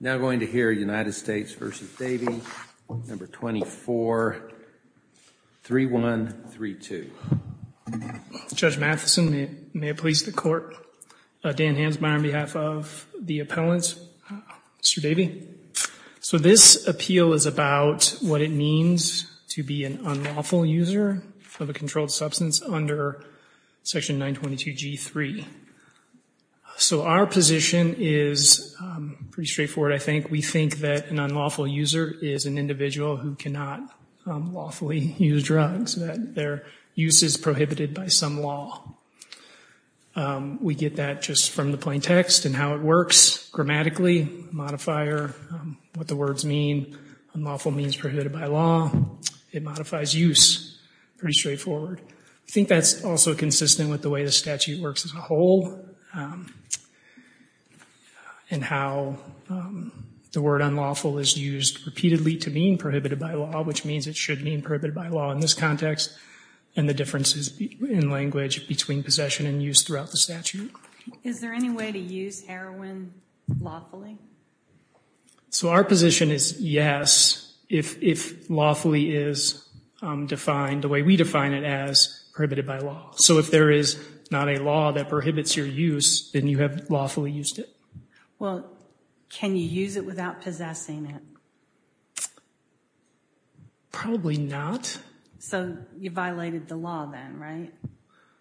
Now going to hear United States v. Davey, No. 24, 3132. Judge Matheson, may it please the court. Dan Hansmeyer on behalf of the appellant. Mr. Davey. So this appeal is about what it means to be an unlawful user of a controlled substance under section 922 G3. So our position is pretty straightforward, I think. We think that an unlawful user is an individual who cannot lawfully use drugs, that their use is prohibited by some law. We get that just from the plain text and how it works grammatically, modifier, what the words mean. Unlawful means prohibited by law. It modifies use. Pretty straightforward. I think that's also consistent with the way the statute works as a whole and how the word unlawful is used repeatedly to mean prohibited by law, which means it should mean prohibited by law in this context and the differences in language between possession and use throughout the statute. Is there any way to use heroin lawfully? So our position is yes, if lawfully is defined the way we define it as prohibited by law. So if there is not a law that prohibits your use, then you have lawfully used it. Well, can you use it without possessing it? Probably not. So you violated the law then, right?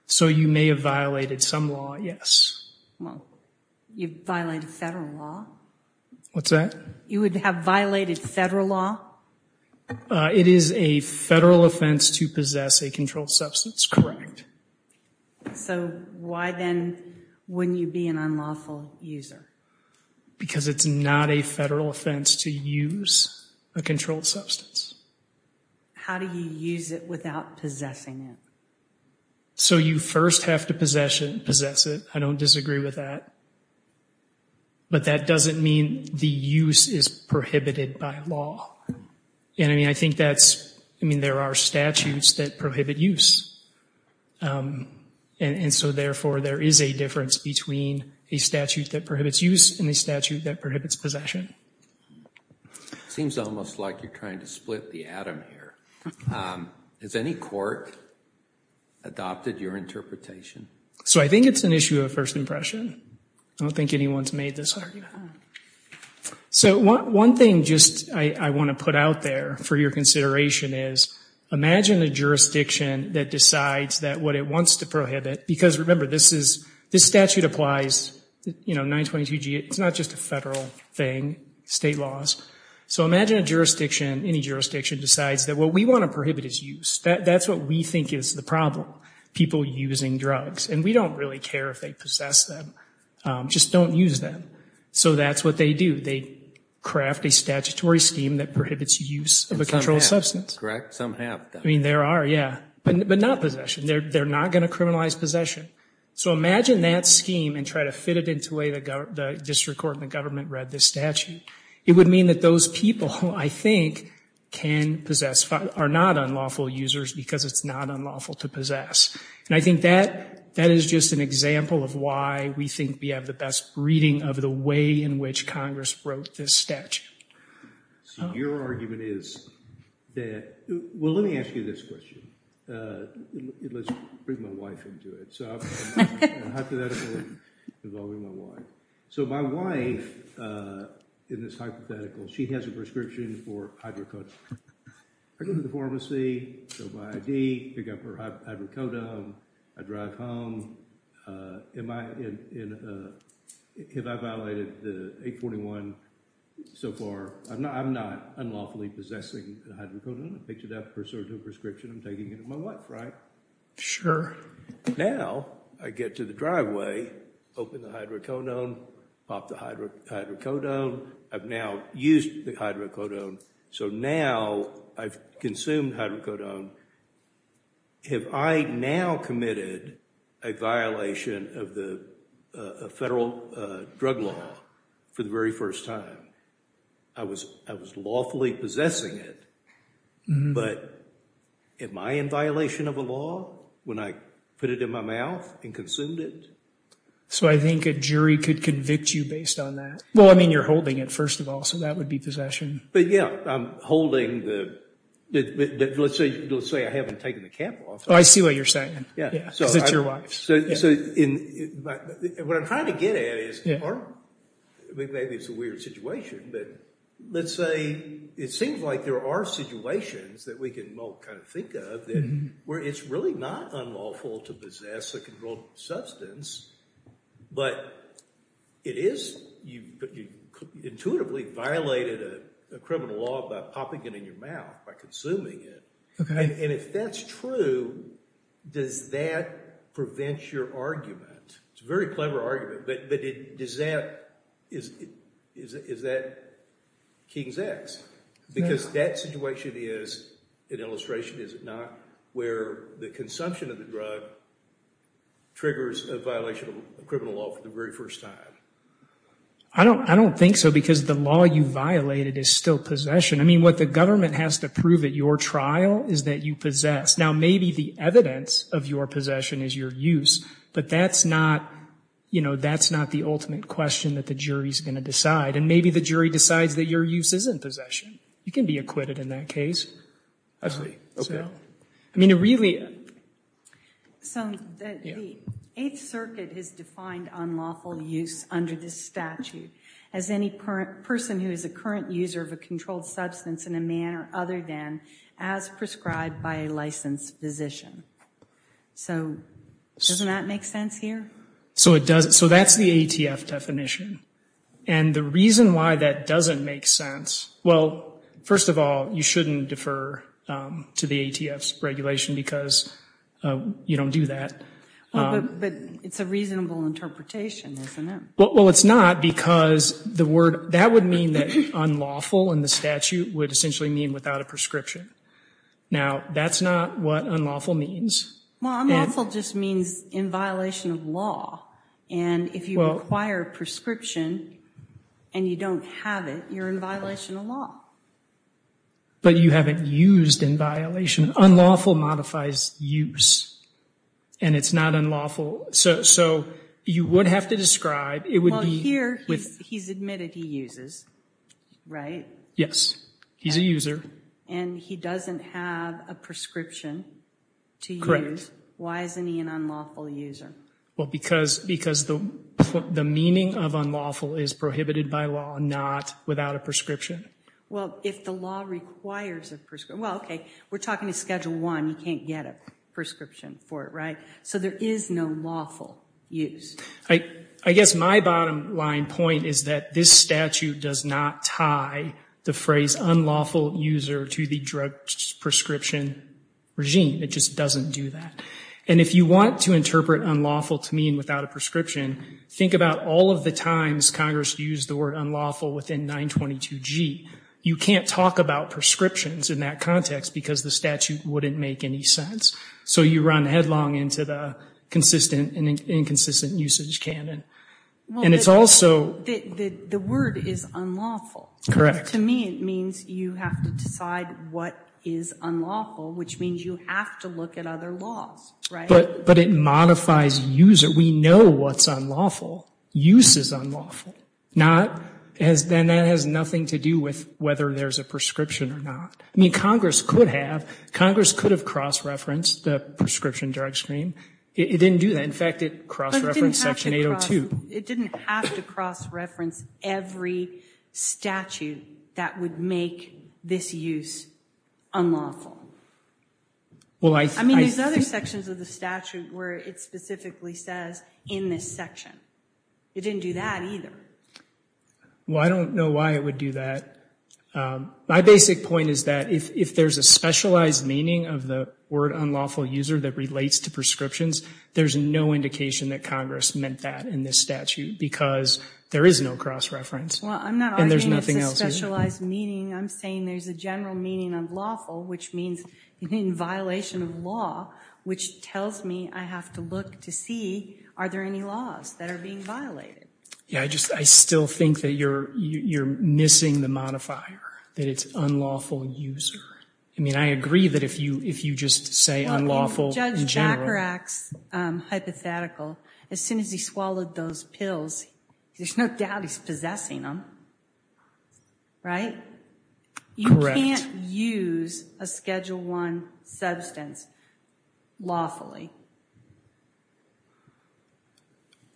So you may have violated some law, yes. Well, you violated federal law. What's that? You would have violated federal law? It is a federal offense to possess a controlled substance, that's correct. So why then wouldn't you be an unlawful user? Because it's not a federal offense to use a controlled substance. How do you use it without possessing it? So you first have to possess it. I don't disagree with that. But that doesn't mean the use is prohibited by law. And I mean, I think that's, I mean, there are statutes that prohibit use. And so therefore, there is a difference between a statute that prohibits use and a statute that prohibits possession. Seems almost like you're trying to split the atom here. Has any court adopted your interpretation? So I think it's an issue of first impression. I don't think anyone's made this argument. So one thing just I want to put out there for your consideration is imagine a jurisdiction that decides that what it wants to prohibit, because remember, this statute applies, you know, 922G, it's not just a federal thing, state laws. So imagine a jurisdiction, any jurisdiction, decides that what we want to prohibit is use. That's what we think is the problem, people using drugs. And we don't really care if they possess them, just don't use them. So that's what they do. They craft a statutory scheme that prohibits use of a controlled substance. Correct, some have. I mean, there are, yeah, but not possession. They're not going to criminalize possession. So imagine that scheme and try to fit it into the way the district court and the government read this statute. It would mean that those people, I think, can possess, are not unlawful users because it's not unlawful to possess. And I think that is just an example of why we think we have the best reading of the way in which Congress wrote this statute. So your argument is that, well, let me ask you this question. Let's bring my wife into it. So hypothetical involving my wife. So my wife, in this hypothetical, she has a prescription for hydrocodone. I go to the pharmacy, fill my ID, pick up her hydrocodone, I drive home. Have I violated the 841? So far, I'm not unlawfully possessing the hydrocodone. I picked it up, preserved the prescription, I'm taking it with my wife, right? Sure. Now I get to the driveway, open the hydrocodone, pop the hydrocodone, I've now used the hydrocodone. So now I've consumed hydrocodone. Have I now committed a violation of the federal drug law for the very first time? I was lawfully possessing it, but am I in violation of a law when I put it in my mouth and consumed it? So I think a jury could convict you based on that. Well, I mean, you're holding it, first of all, so that would be possession. But yeah, I'm holding the, let's say I haven't taken the cap off. Oh, I see what you're saying. Yeah. Because it's your wife. So what I'm trying to get at is, or maybe it's a weird situation, but let's say it seems like there are situations that we can all kind of think of that where it's really not unlawful to possess a controlled substance, but it is, you intuitively violated a criminal law by popping it in your mouth, by consuming it. Okay. And if that's true, does that prevent your argument? It's a very clever argument, but is that King's X? Because that situation is an illustration, is it not, where the consumption of the drug triggers a violation of criminal law for the very first time? I don't think so, because the law you violated is still possession. I mean, what the government has to prove at your trial is that you possess. Now, maybe the evidence of your possession is your use, but that's not the ultimate question that the jury's gonna decide, and maybe the jury decides that your use isn't possession. You can be acquitted in that case. I see, okay. I mean, it really. So the Eighth Circuit has defined unlawful use under this statute as any person who is a current user of a controlled substance in a manner other than as prescribed by a licensed physician. So, doesn't that make sense here? So it does. So that's the ATF definition. And the reason why that doesn't make sense, well, first of all, you shouldn't defer to the ATF's regulation because you don't do that. Well, but it's a reasonable interpretation, isn't it? Well, it's not because the word, that would mean that unlawful in the statute would essentially mean without a prescription. Now, that's not what unlawful means. Well, unlawful just means in violation of law. And if you require a prescription and you don't have it, you're in violation of law. But you haven't used in violation. Unlawful modifies use. And it's not unlawful. So you would have to describe, it would be. Well, here, he's admitted he uses, right? Yes, he's a user. And he doesn't have a prescription to use. Why isn't he an unlawful user? Well, because the meaning of unlawful is prohibited by law, not without a prescription. Well, if the law requires a prescription, well, okay, we're talking to Schedule I. You can't get a prescription for it, right? So there is no lawful use. I guess my bottom line point is that this statute does not tie the phrase unlawful user to the drug prescription regime. It just doesn't do that. And if you want to interpret unlawful to mean without a prescription, think about all of the times Congress used the word unlawful within 922G. You can't talk about prescriptions in that context because the statute wouldn't make any sense. So you run headlong into the consistent and inconsistent usage canon. And it's also. The word is unlawful. Correct. To me, it means you have to decide what is unlawful, which means you have to look at other laws, right? But it modifies user. We know what's unlawful. Use is unlawful, and that has nothing to do with whether there's a prescription or not. I mean, Congress could have. Congress could have cross-referenced the prescription drug scheme. It didn't do that. In fact, it cross-referenced Section 802. It didn't have to cross-reference every statute that would make this use unlawful. Well, I think. I mean, there's other sections of the statute where it specifically says in this section. It didn't do that either. Well, I don't know why it would do that. My basic point is that if there's a specialized meaning of the word unlawful user that relates to prescriptions, there's no indication that Congress meant that in this statute because there is no cross-reference. Well, I'm not arguing it's a specialized meaning. I'm saying there's a general meaning of lawful, which means in violation of law, which tells me I have to look to see are there any laws that are being violated? Yeah, I still think that you're missing the modifier, that it's unlawful user. I mean, I agree that if you just say unlawful in general. Well, in Judge Bacharach's hypothetical, as soon as he swallowed those pills, there's no doubt he's possessing them, right? You can't use a Schedule I substance lawfully.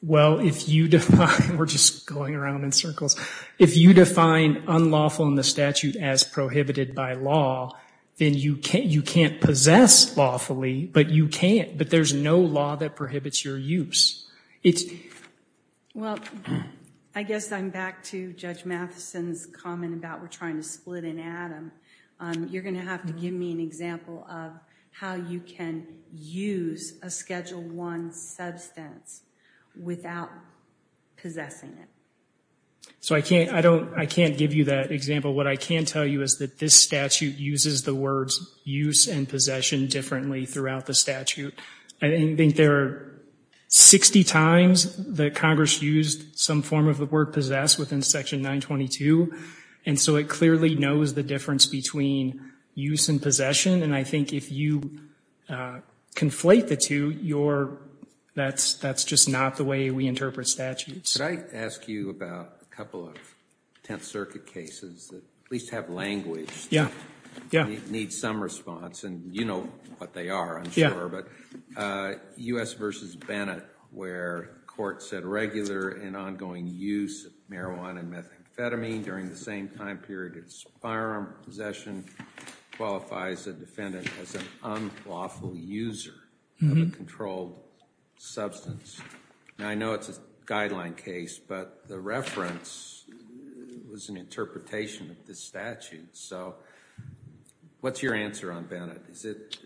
Well, if you define, we're just going around in circles. If you define unlawful in the statute as prohibited by law, then you can't possess lawfully, but you can't. But there's no law that prohibits your use. Well, I guess I'm back to Judge Matheson's comment about we're trying to split an atom. You're gonna have to give me an example of how you can use a Schedule I substance without possessing it. So I can't give you that example. What I can tell you is that this statute uses the words use and possession differently throughout the statute. I think there are 60 times that Congress used some form of the word possess within Section 922. And so it clearly knows the difference between use and possession. And I think if you conflate the two, that's just not the way we interpret statutes. Could I ask you about a couple of Tenth Circuit cases that at least have language, need some response, and you know what they are, I'm sure, but U.S. v. Bennett, where court said regular and ongoing use of marijuana and methamphetamine during the same time period as firearm possession qualifies a defendant as an unlawful user of a controlled substance. Now, I know it's a guideline case, but the reference was an interpretation of this statute. So what's your answer on Bennett? Is it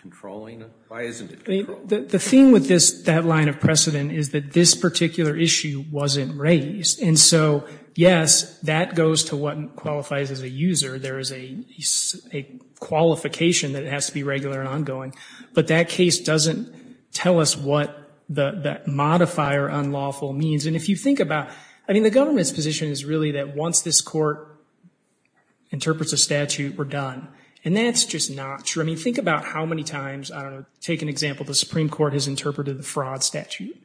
controlling? Why isn't it controlling? The thing with that line of precedent is that this particular issue wasn't raised. And so, yes, that goes to what qualifies as a user. There is a qualification that has to be regular and ongoing. But that case doesn't tell us what that modifier unlawful means. And if you think about, I mean, the government's position is really that once this court interprets a statute, we're done. And that's just not true. I mean, think about how many times, I don't know, take an example, the Supreme Court has interpreted the fraud statute.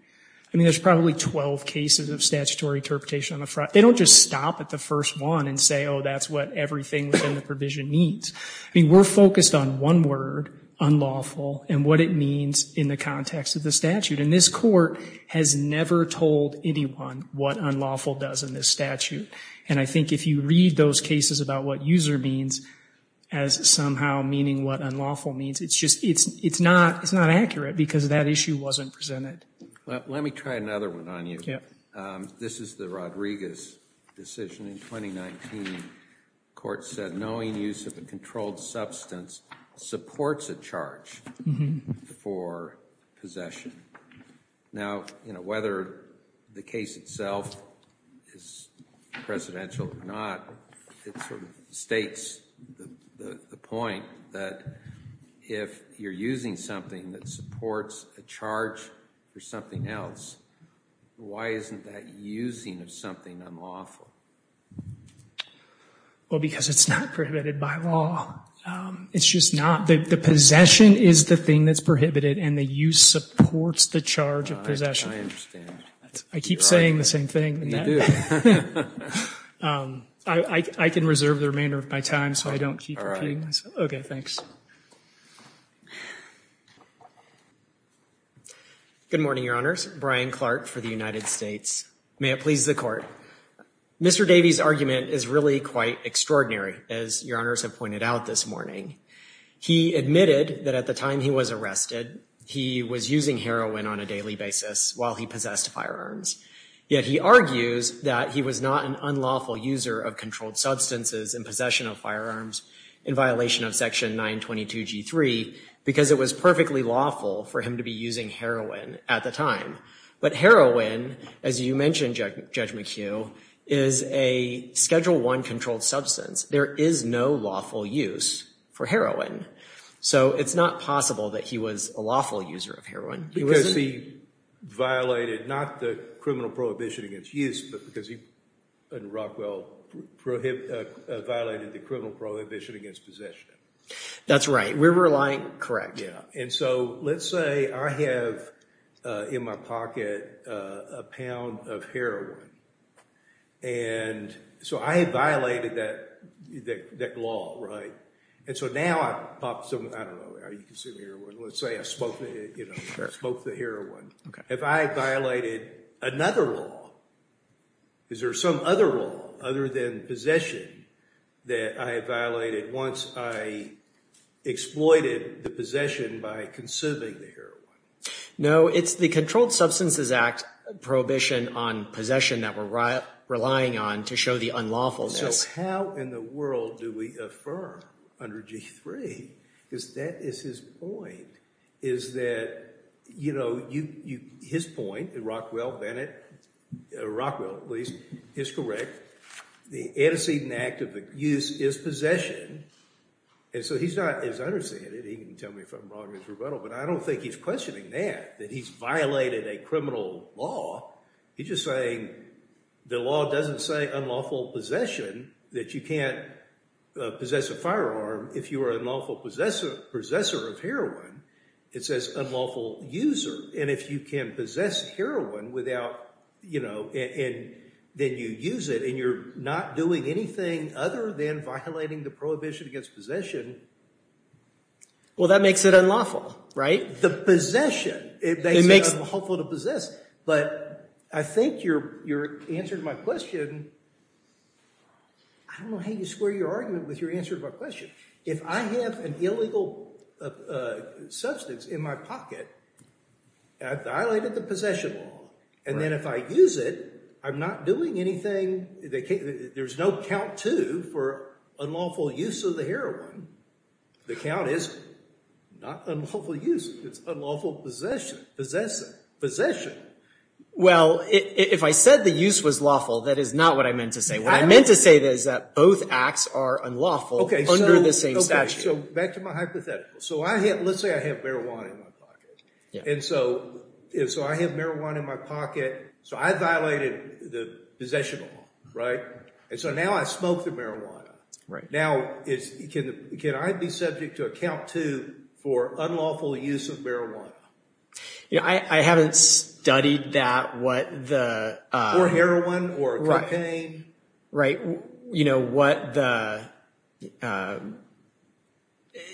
I mean, there's probably 12 cases of statutory interpretation on the fraud. They don't just stop at the first one and say, oh, that's what everything within the provision means. I mean, we're focused on one word, unlawful, and what it means in the context of the statute. And this court has never told anyone what unlawful does in this statute. And I think if you read those cases about what user means as somehow meaning what unlawful means, it's not accurate because that issue wasn't presented. Let me try another one on you. This is the Rodriguez decision in 2019. Court said, knowing use of a controlled substance supports a charge for possession. Now, whether the case itself is presidential or not, it sort of states the point that if you're using something that supports a charge for something else, why isn't that using of something unlawful? Well, because it's not prohibited by law. It's just not. The possession is the thing that's prohibited and the use supports the charge of possession. I understand. I keep saying the same thing. You do. I can reserve the remainder of my time so I don't keep repeating myself. Okay, thanks. Good morning, your honors. Brian Clark for the United States. May it please the court. Mr. Davies' argument is really quite extraordinary, as your honors have pointed out this morning. He admitted that at the time he was arrested, he was using heroin on a daily basis while he possessed firearms. Yet he argues that he was not an unlawful user of controlled substances in possession of firearms in violation of section 922G3 because it was perfectly lawful for him to be using heroin at the time. But heroin, as you mentioned, Judge McHugh, is a Schedule I controlled substance. There is no lawful use for heroin. So it's not possible that he was a lawful user of heroin. Because he violated, not the criminal prohibition against use, but because he and Rockwell violated the criminal prohibition against possession. That's right. We're relying, correct. And so let's say I have in my pocket a pound of heroin. And so I had violated that law, right? And so now I pop some, I don't know, are you consuming heroin? Let's say I smoked the heroin. Have I violated another law? Is there some other law other than possession that I violated once I exploited the possession by consuming the heroin? No, it's the Controlled Substances Act prohibition on possession that we're relying on to show the unlawfulness. So how in the world do we affirm under G3? Because that is his point. Is that, you know, his point, Rockwell, Bennett, Rockwell at least, is correct. The antecedent act of abuse is possession. And so he's not as understanding. He can tell me if I'm wrong in his rebuttal. But I don't think he's questioning that, that he's violated a criminal law. He's just saying the law doesn't say unlawful possession that you can't possess a firearm if you are an unlawful possessor of heroin. It says unlawful user. And if you can possess heroin without, you know, and then you use it and you're not doing anything other than violating the prohibition against possession. Well, that makes it unlawful, right? The possession, it makes it unlawful to possess. But I think your answer to my question, I don't know how you square your argument with your answer to my question. If I have an illegal substance in my pocket, I've violated the possession law. And then if I use it, I'm not doing anything, there's no count two for unlawful use of the heroin. The count is not unlawful use, it's unlawful possession, possessing, possession. Well, if I said the use was lawful, that is not what I meant to say. What I meant to say is that both acts are unlawful under the same statute. Okay, so back to my hypothetical. So let's say I have marijuana in my pocket. And so I have marijuana in my pocket, so I violated the possession law, right? And so now I smoke the marijuana. Now, can I be subject to a count two for unlawful use of marijuana? Yeah, I haven't studied that, what the- For heroin or cocaine. Right, you know, what the,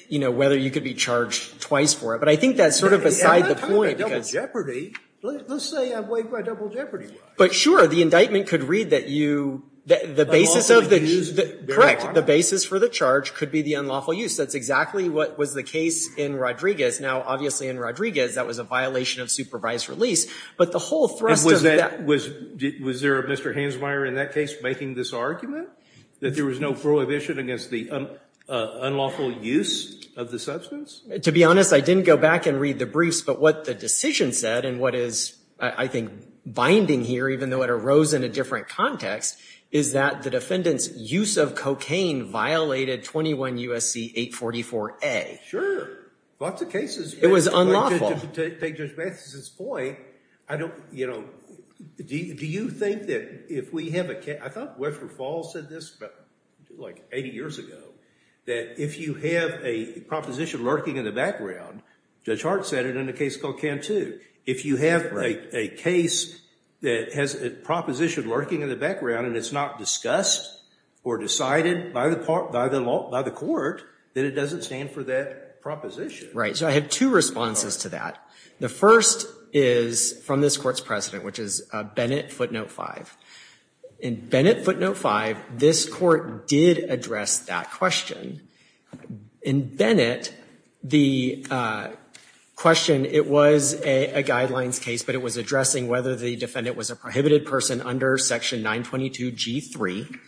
you know, whether you could be charged twice for it. But I think that's sort of beside the point. I'm not talking about double jeopardy. Let's say I'm waived by double jeopardy. But sure, the indictment could read that you, the basis of the- Unlawful use. Correct, the basis for the charge could be the unlawful use. That's exactly what was the case in Rodriguez. Now, obviously in Rodriguez, that was a violation of supervised release. But the whole thrust of that- Was there a Mr. Hansmeier in that case making this argument? That there was no prohibition against the unlawful use of the substance? To be honest, I didn't go back and read the briefs, but what the decision said, and what is, I think, binding here, even though it arose in a different context, is that the defendant's use of cocaine violated 21 U.S.C. 844-A. Sure, lots of cases- It was unlawful. To take Judge Matheson's point, I don't, you know, do you think that if we have a, I thought Webster Falls said this about 80 years ago, that if you have a proposition lurking in the background, Judge Hart said it in a case called Cantu, if you have a case that has a proposition lurking in the background and it's not discussed or decided by the court, then it doesn't stand for that proposition. Right, so I have two responses to that. The first is from this court's president, which is Bennett Footnote 5. In Bennett Footnote 5, this court did address that question. In Bennett, the question, it was a guidelines case, but it was addressing whether the defendant was a prohibited person under Section 922 G3,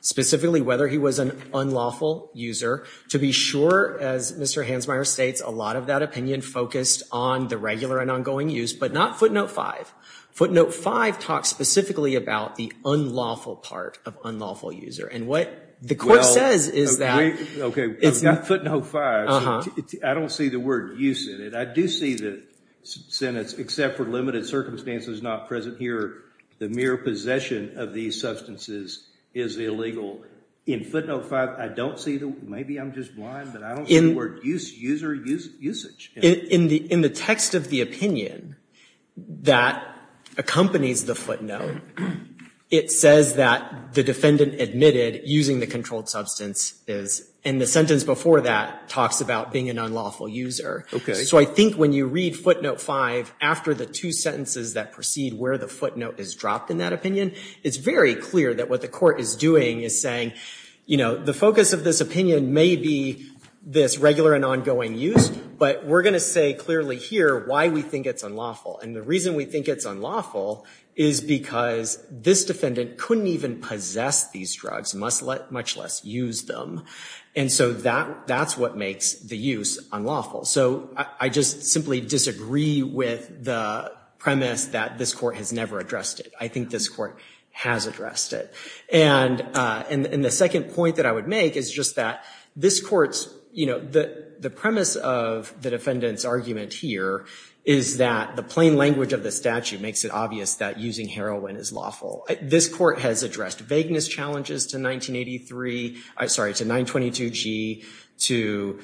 specifically whether he was an unlawful user. To be sure, as Mr. Hansmeier states, a lot of that opinion focused on the regular and ongoing use, but not Footnote 5. Footnote 5 talks specifically about the unlawful part of unlawful user, and what the court says is that. Okay, Footnote 5, I don't see the word use in it. I do see the sentence, except for limited circumstances not present here, the mere possession of these substances is illegal. In Footnote 5, I don't see the, maybe I'm just blind, but I don't see the word use, user usage. In the text of the opinion that accompanies the footnote, it says that the defendant admitted using the controlled substance is, and the sentence before that talks about being an unlawful user. So I think when you read Footnote 5 after the two sentences that precede where the footnote is dropped in that opinion, it's very clear that what the court is doing is saying the focus of this opinion may be this regular and ongoing use, but we're gonna say clearly here why we think it's unlawful. And the reason we think it's unlawful is because this defendant couldn't even possess these drugs, must let much less use them. And so that's what makes the use unlawful. So I just simply disagree with the premise that this court has never addressed it. I think this court has addressed it. And the second point that I would make is just that this court's, the premise of the defendant's argument here is that the plain language of the statute makes it obvious that using heroin is lawful. This court has addressed vagueness challenges to 1983, sorry, to 922G, to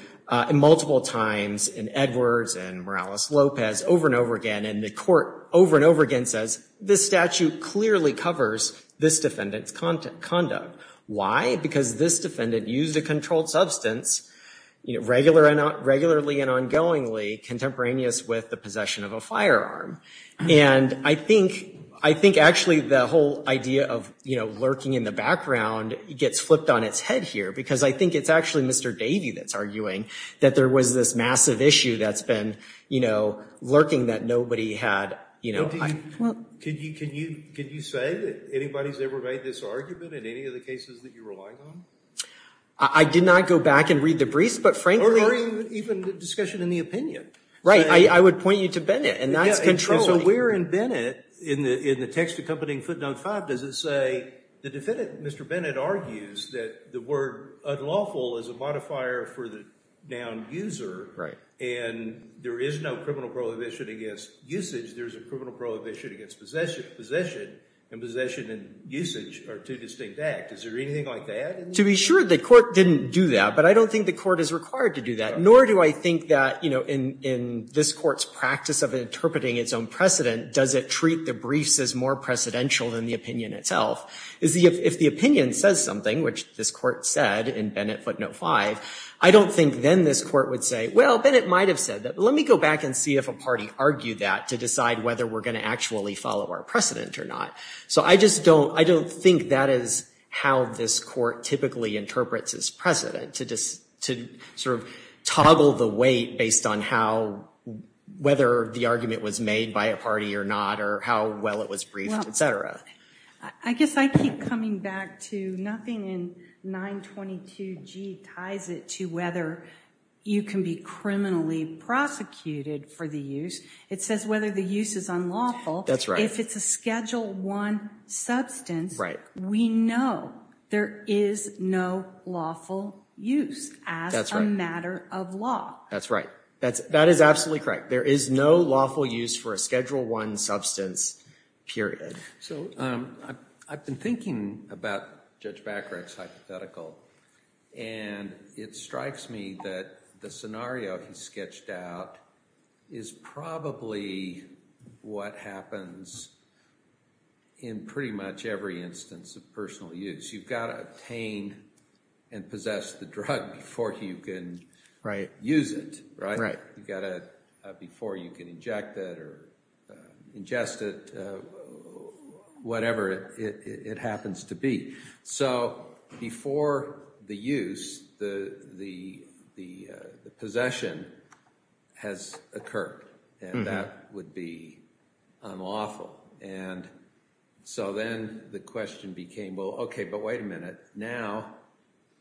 multiple times in Edwards and Morales-Lopez over and over again, and the court over and over again says this statute clearly covers this defendant's conduct. Why? Because this defendant used a controlled substance, regularly and ongoingly contemporaneous with the possession of a firearm. And I think actually the whole idea of lurking in the background gets flipped on its head here because I think it's actually Mr. Davey that's arguing that there was this massive issue that's been lurking that nobody had. Can you say that anybody's ever made this argument in any of the cases that you're relying on? I did not go back and read the briefs, but frankly. Or even the discussion in the opinion. Right, I would point you to Bennett, and that's controlling. And so where in Bennett, in the text accompanying footnote five, does it say the defendant, Mr. Bennett, argues that the word unlawful is a modifier for the noun user, and there is no criminal prohibition against usage, there's a criminal prohibition against possession, and possession and usage are two distinct act. Is there anything like that? To be sure, the court didn't do that, but I don't think the court is required to do that, nor do I think that in this court's practice of interpreting its own precedent, does it treat the briefs as more precedential than the opinion itself. If the opinion says something, which this court said in Bennett footnote five, I don't think then this court would say, well, Bennett might have said that. Let me go back and see if a party argued that to decide whether we're gonna actually follow our precedent or not. So I just don't, I don't think that is how this court typically interprets its precedent, to sort of toggle the weight based on how, whether the argument was made by a party or not, or how well it was briefed, et cetera. I guess I keep coming back to, nothing in 922G ties it to whether you can be criminally prosecuted for the use. It says whether the use is unlawful. That's right. If it's a Schedule I substance, we know there is no lawful use as a matter of law. That's right, that is absolutely correct. There is no lawful use for a Schedule I substance, period. So I've been thinking about Judge Bacharach's hypothetical, and it strikes me that the scenario he sketched out is probably what happens in pretty much every instance of personal use. You've gotta obtain and possess the drug before you can use it, right? You've gotta, before you can inject it, or ingest it, whatever it happens to be. So before the use, the possession has occurred, and that would be unlawful. And so then the question became, well, okay, but wait a minute. Now,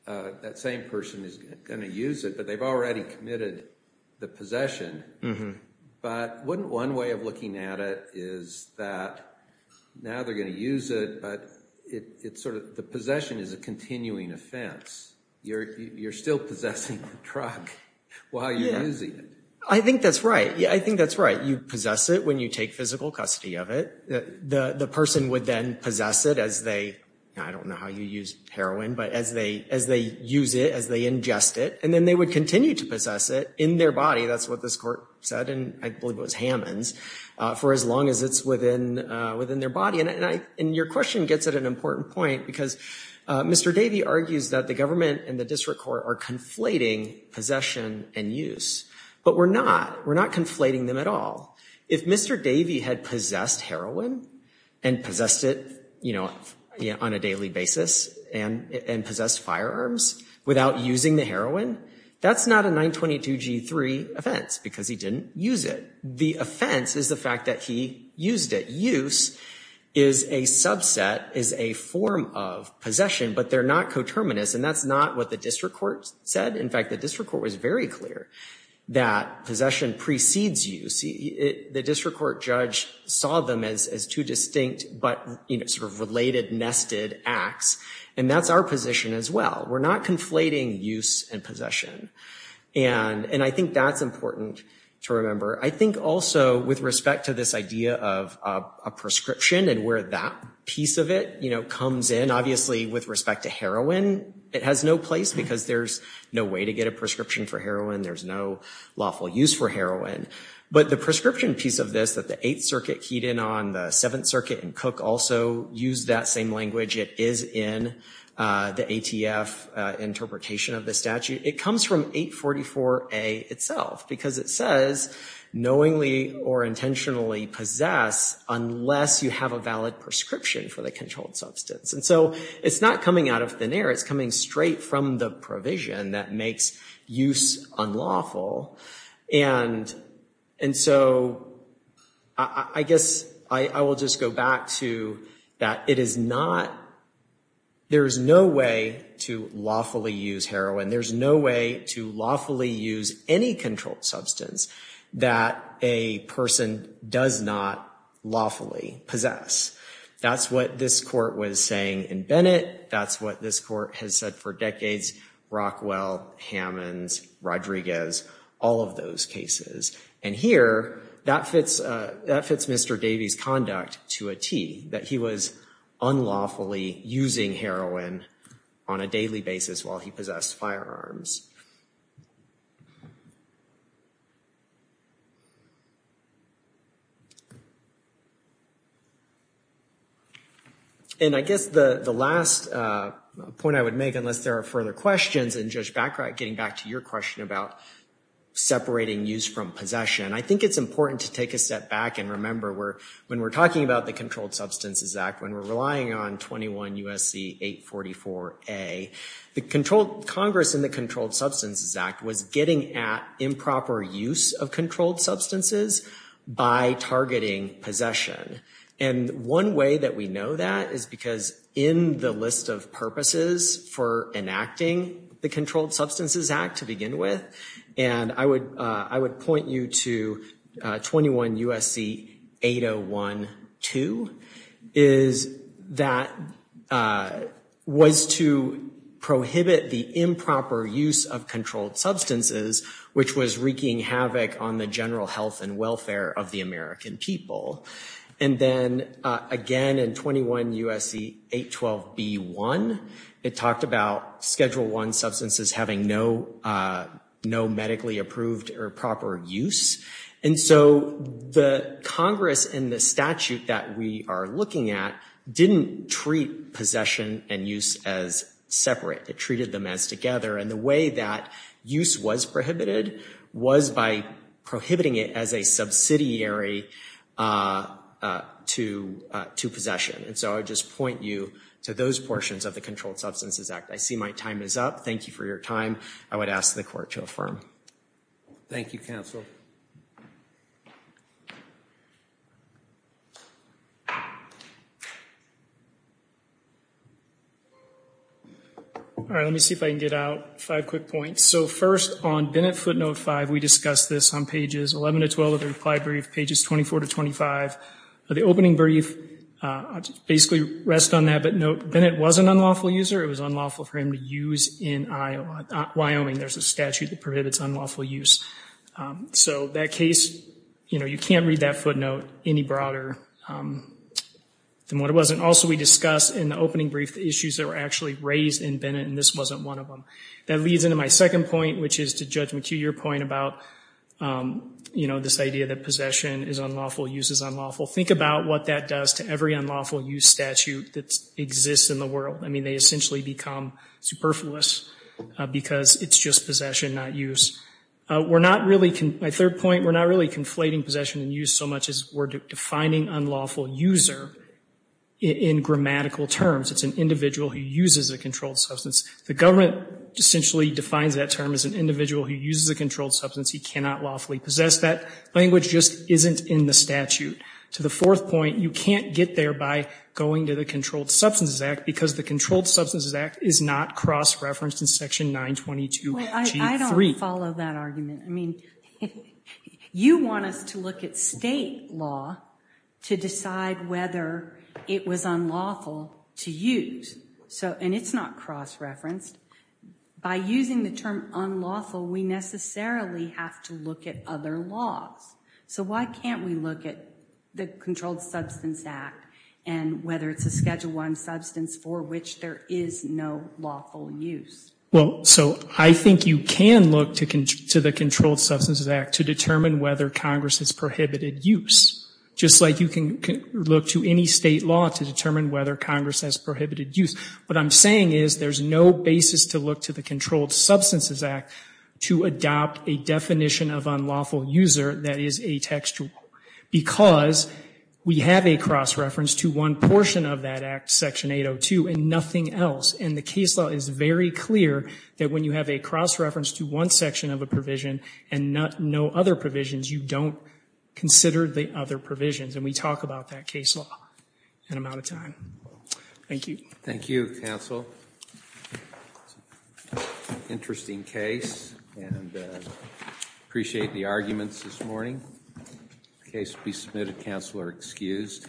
that same person is gonna use it, but they've already committed the possession. But wouldn't one way of looking at it is that now they're gonna use it, but it's sort of, the possession is a continuing offense. You're still possessing the drug while you're using it. I think that's right. Yeah, I think that's right. You possess it when you take physical custody of it. The person would then possess it as they, I don't know how you use heroin, but as they use it, as they ingest it, and then they would continue to possess it in their body. That's what this court said, and I believe it was Hammonds, for as long as it's within their body. And your question gets at an important point because Mr. Davey argues that the government and the district court are conflating possession and use, but we're not. We're not conflating them at all. If Mr. Davey had possessed heroin and possessed it on a daily basis and possessed firearms without using the heroin, that's not a 922G3 offense because he didn't use it. The offense is the fact that he used it. Use is a subset, is a form of possession, but they're not coterminous, and that's not what the district court said. In fact, the district court was very clear that possession precedes use. The district court judge saw them as two distinct, but sort of related, nested acts, and that's our position as well. We're not conflating use and possession, and I think that's important to remember. I think also with respect to this idea of a prescription and where that piece of it comes in, obviously with respect to heroin, it has no place because there's no way to get a prescription for heroin. There's no lawful use for heroin, but the prescription piece of this that the Eighth Circuit keyed in on, the Seventh Circuit and Cook also used that same language. It is in the ATF interpretation of the statute. It comes from 844A itself because it says knowingly or intentionally possess unless you have a valid prescription for the controlled substance, and so it's not coming out of thin air. It's coming straight from the provision that makes use unlawful, and so I guess I will just go back to that it is not, there is no way to lawfully use heroin. There's no way to lawfully use any controlled substance that a person does not lawfully possess. That's what this court was saying in Bennett. That's what this court has said for decades, Rockwell, Hammonds, Rodriguez, all of those cases, and here that fits Mr. Davies' conduct to a T that he was unlawfully using heroin on a daily basis while he possessed firearms. And I guess the last point I would make unless there are further questions, and Judge Baccarat getting back to your question about separating use from possession, I think it's important to take a step back and remember when we're talking about the Controlled Substances Act, when we're relying on 21 U.S.C. 844A, the Congress in the Controlled Substances Act was getting at improper use of controlled substances by targeting possession, and one way that we know that is because in the list of purposes for enacting the Controlled Substances Act to begin with, and I would point you to 21 U.S.C. 8012 is that was to prohibit the improper use of controlled substances which was wreaking havoc on the general health and welfare of the American people. And then again in 21 U.S.C. 812B1, it talked about Schedule I substances having no medically approved or proper use, and so the Congress in the statute that we are looking at didn't treat possession and use as separate. It treated them as together, and the way that use was prohibited was by prohibiting it as a subsidiary to possession. And so I would just point you to those portions of the Controlled Substances Act. I see my time is up. Thank you for your time. I would ask the court to affirm. Thank you, counsel. All right, let me see if I can get out five quick points. So first, on Bennett footnote five, we discussed this on pages 11 to 12 of the reply brief, pages 24 to 25 of the opening brief. I'll just basically rest on that, but note Bennett was an unlawful user. It was unlawful for him to use in Wyoming. There's a statute that prohibits unlawful use. So that case, you know, you can't read that footnote any broader than what it was. And also we discussed in the opening brief the issues that were actually raised in Bennett, and this wasn't one of them. That leads into my second point, which is to Judge McHugh, your point about, you know, this idea that possession is unlawful, use is unlawful. Think about what that does to every unlawful use statute that exists in the world. I mean, they essentially become superfluous because it's just possession, not use. We're not really, my third point, we're not really conflating possession and use so much as we're defining unlawful user in grammatical terms. It's an individual who uses a controlled substance. The government essentially defines that term as an individual who uses a controlled substance he cannot lawfully possess. That language just isn't in the statute. To the fourth point, you can't get there by going to the Controlled Substances Act because the Controlled Substances Act is not cross-referenced in section 922G3. Well, I don't follow that argument. I mean, you want us to look at state law to decide whether it was unlawful to use. And it's not cross-referenced. By using the term unlawful, we necessarily have to look at other laws. So why can't we look at the Controlled Substances Act and whether it's a Schedule I substance for which there is no lawful use? Well, so I think you can look to the Controlled Substances Act to determine whether Congress has prohibited use, just like you can look to any state law to determine whether Congress has prohibited use. What I'm saying is there's no basis to look to the Controlled Substances Act to adopt a definition of unlawful user that is atextual because we have a cross-reference to one portion of that Act, section 802, and nothing else. And the case law is very clear that when you have a cross-reference to one section of a provision and no other provisions, you don't consider the other provisions. And we talk about that case law. And I'm out of time. Thank you. Thank you, counsel. Interesting case, and appreciate the arguments this morning. Case will be submitted. Counsel are excused.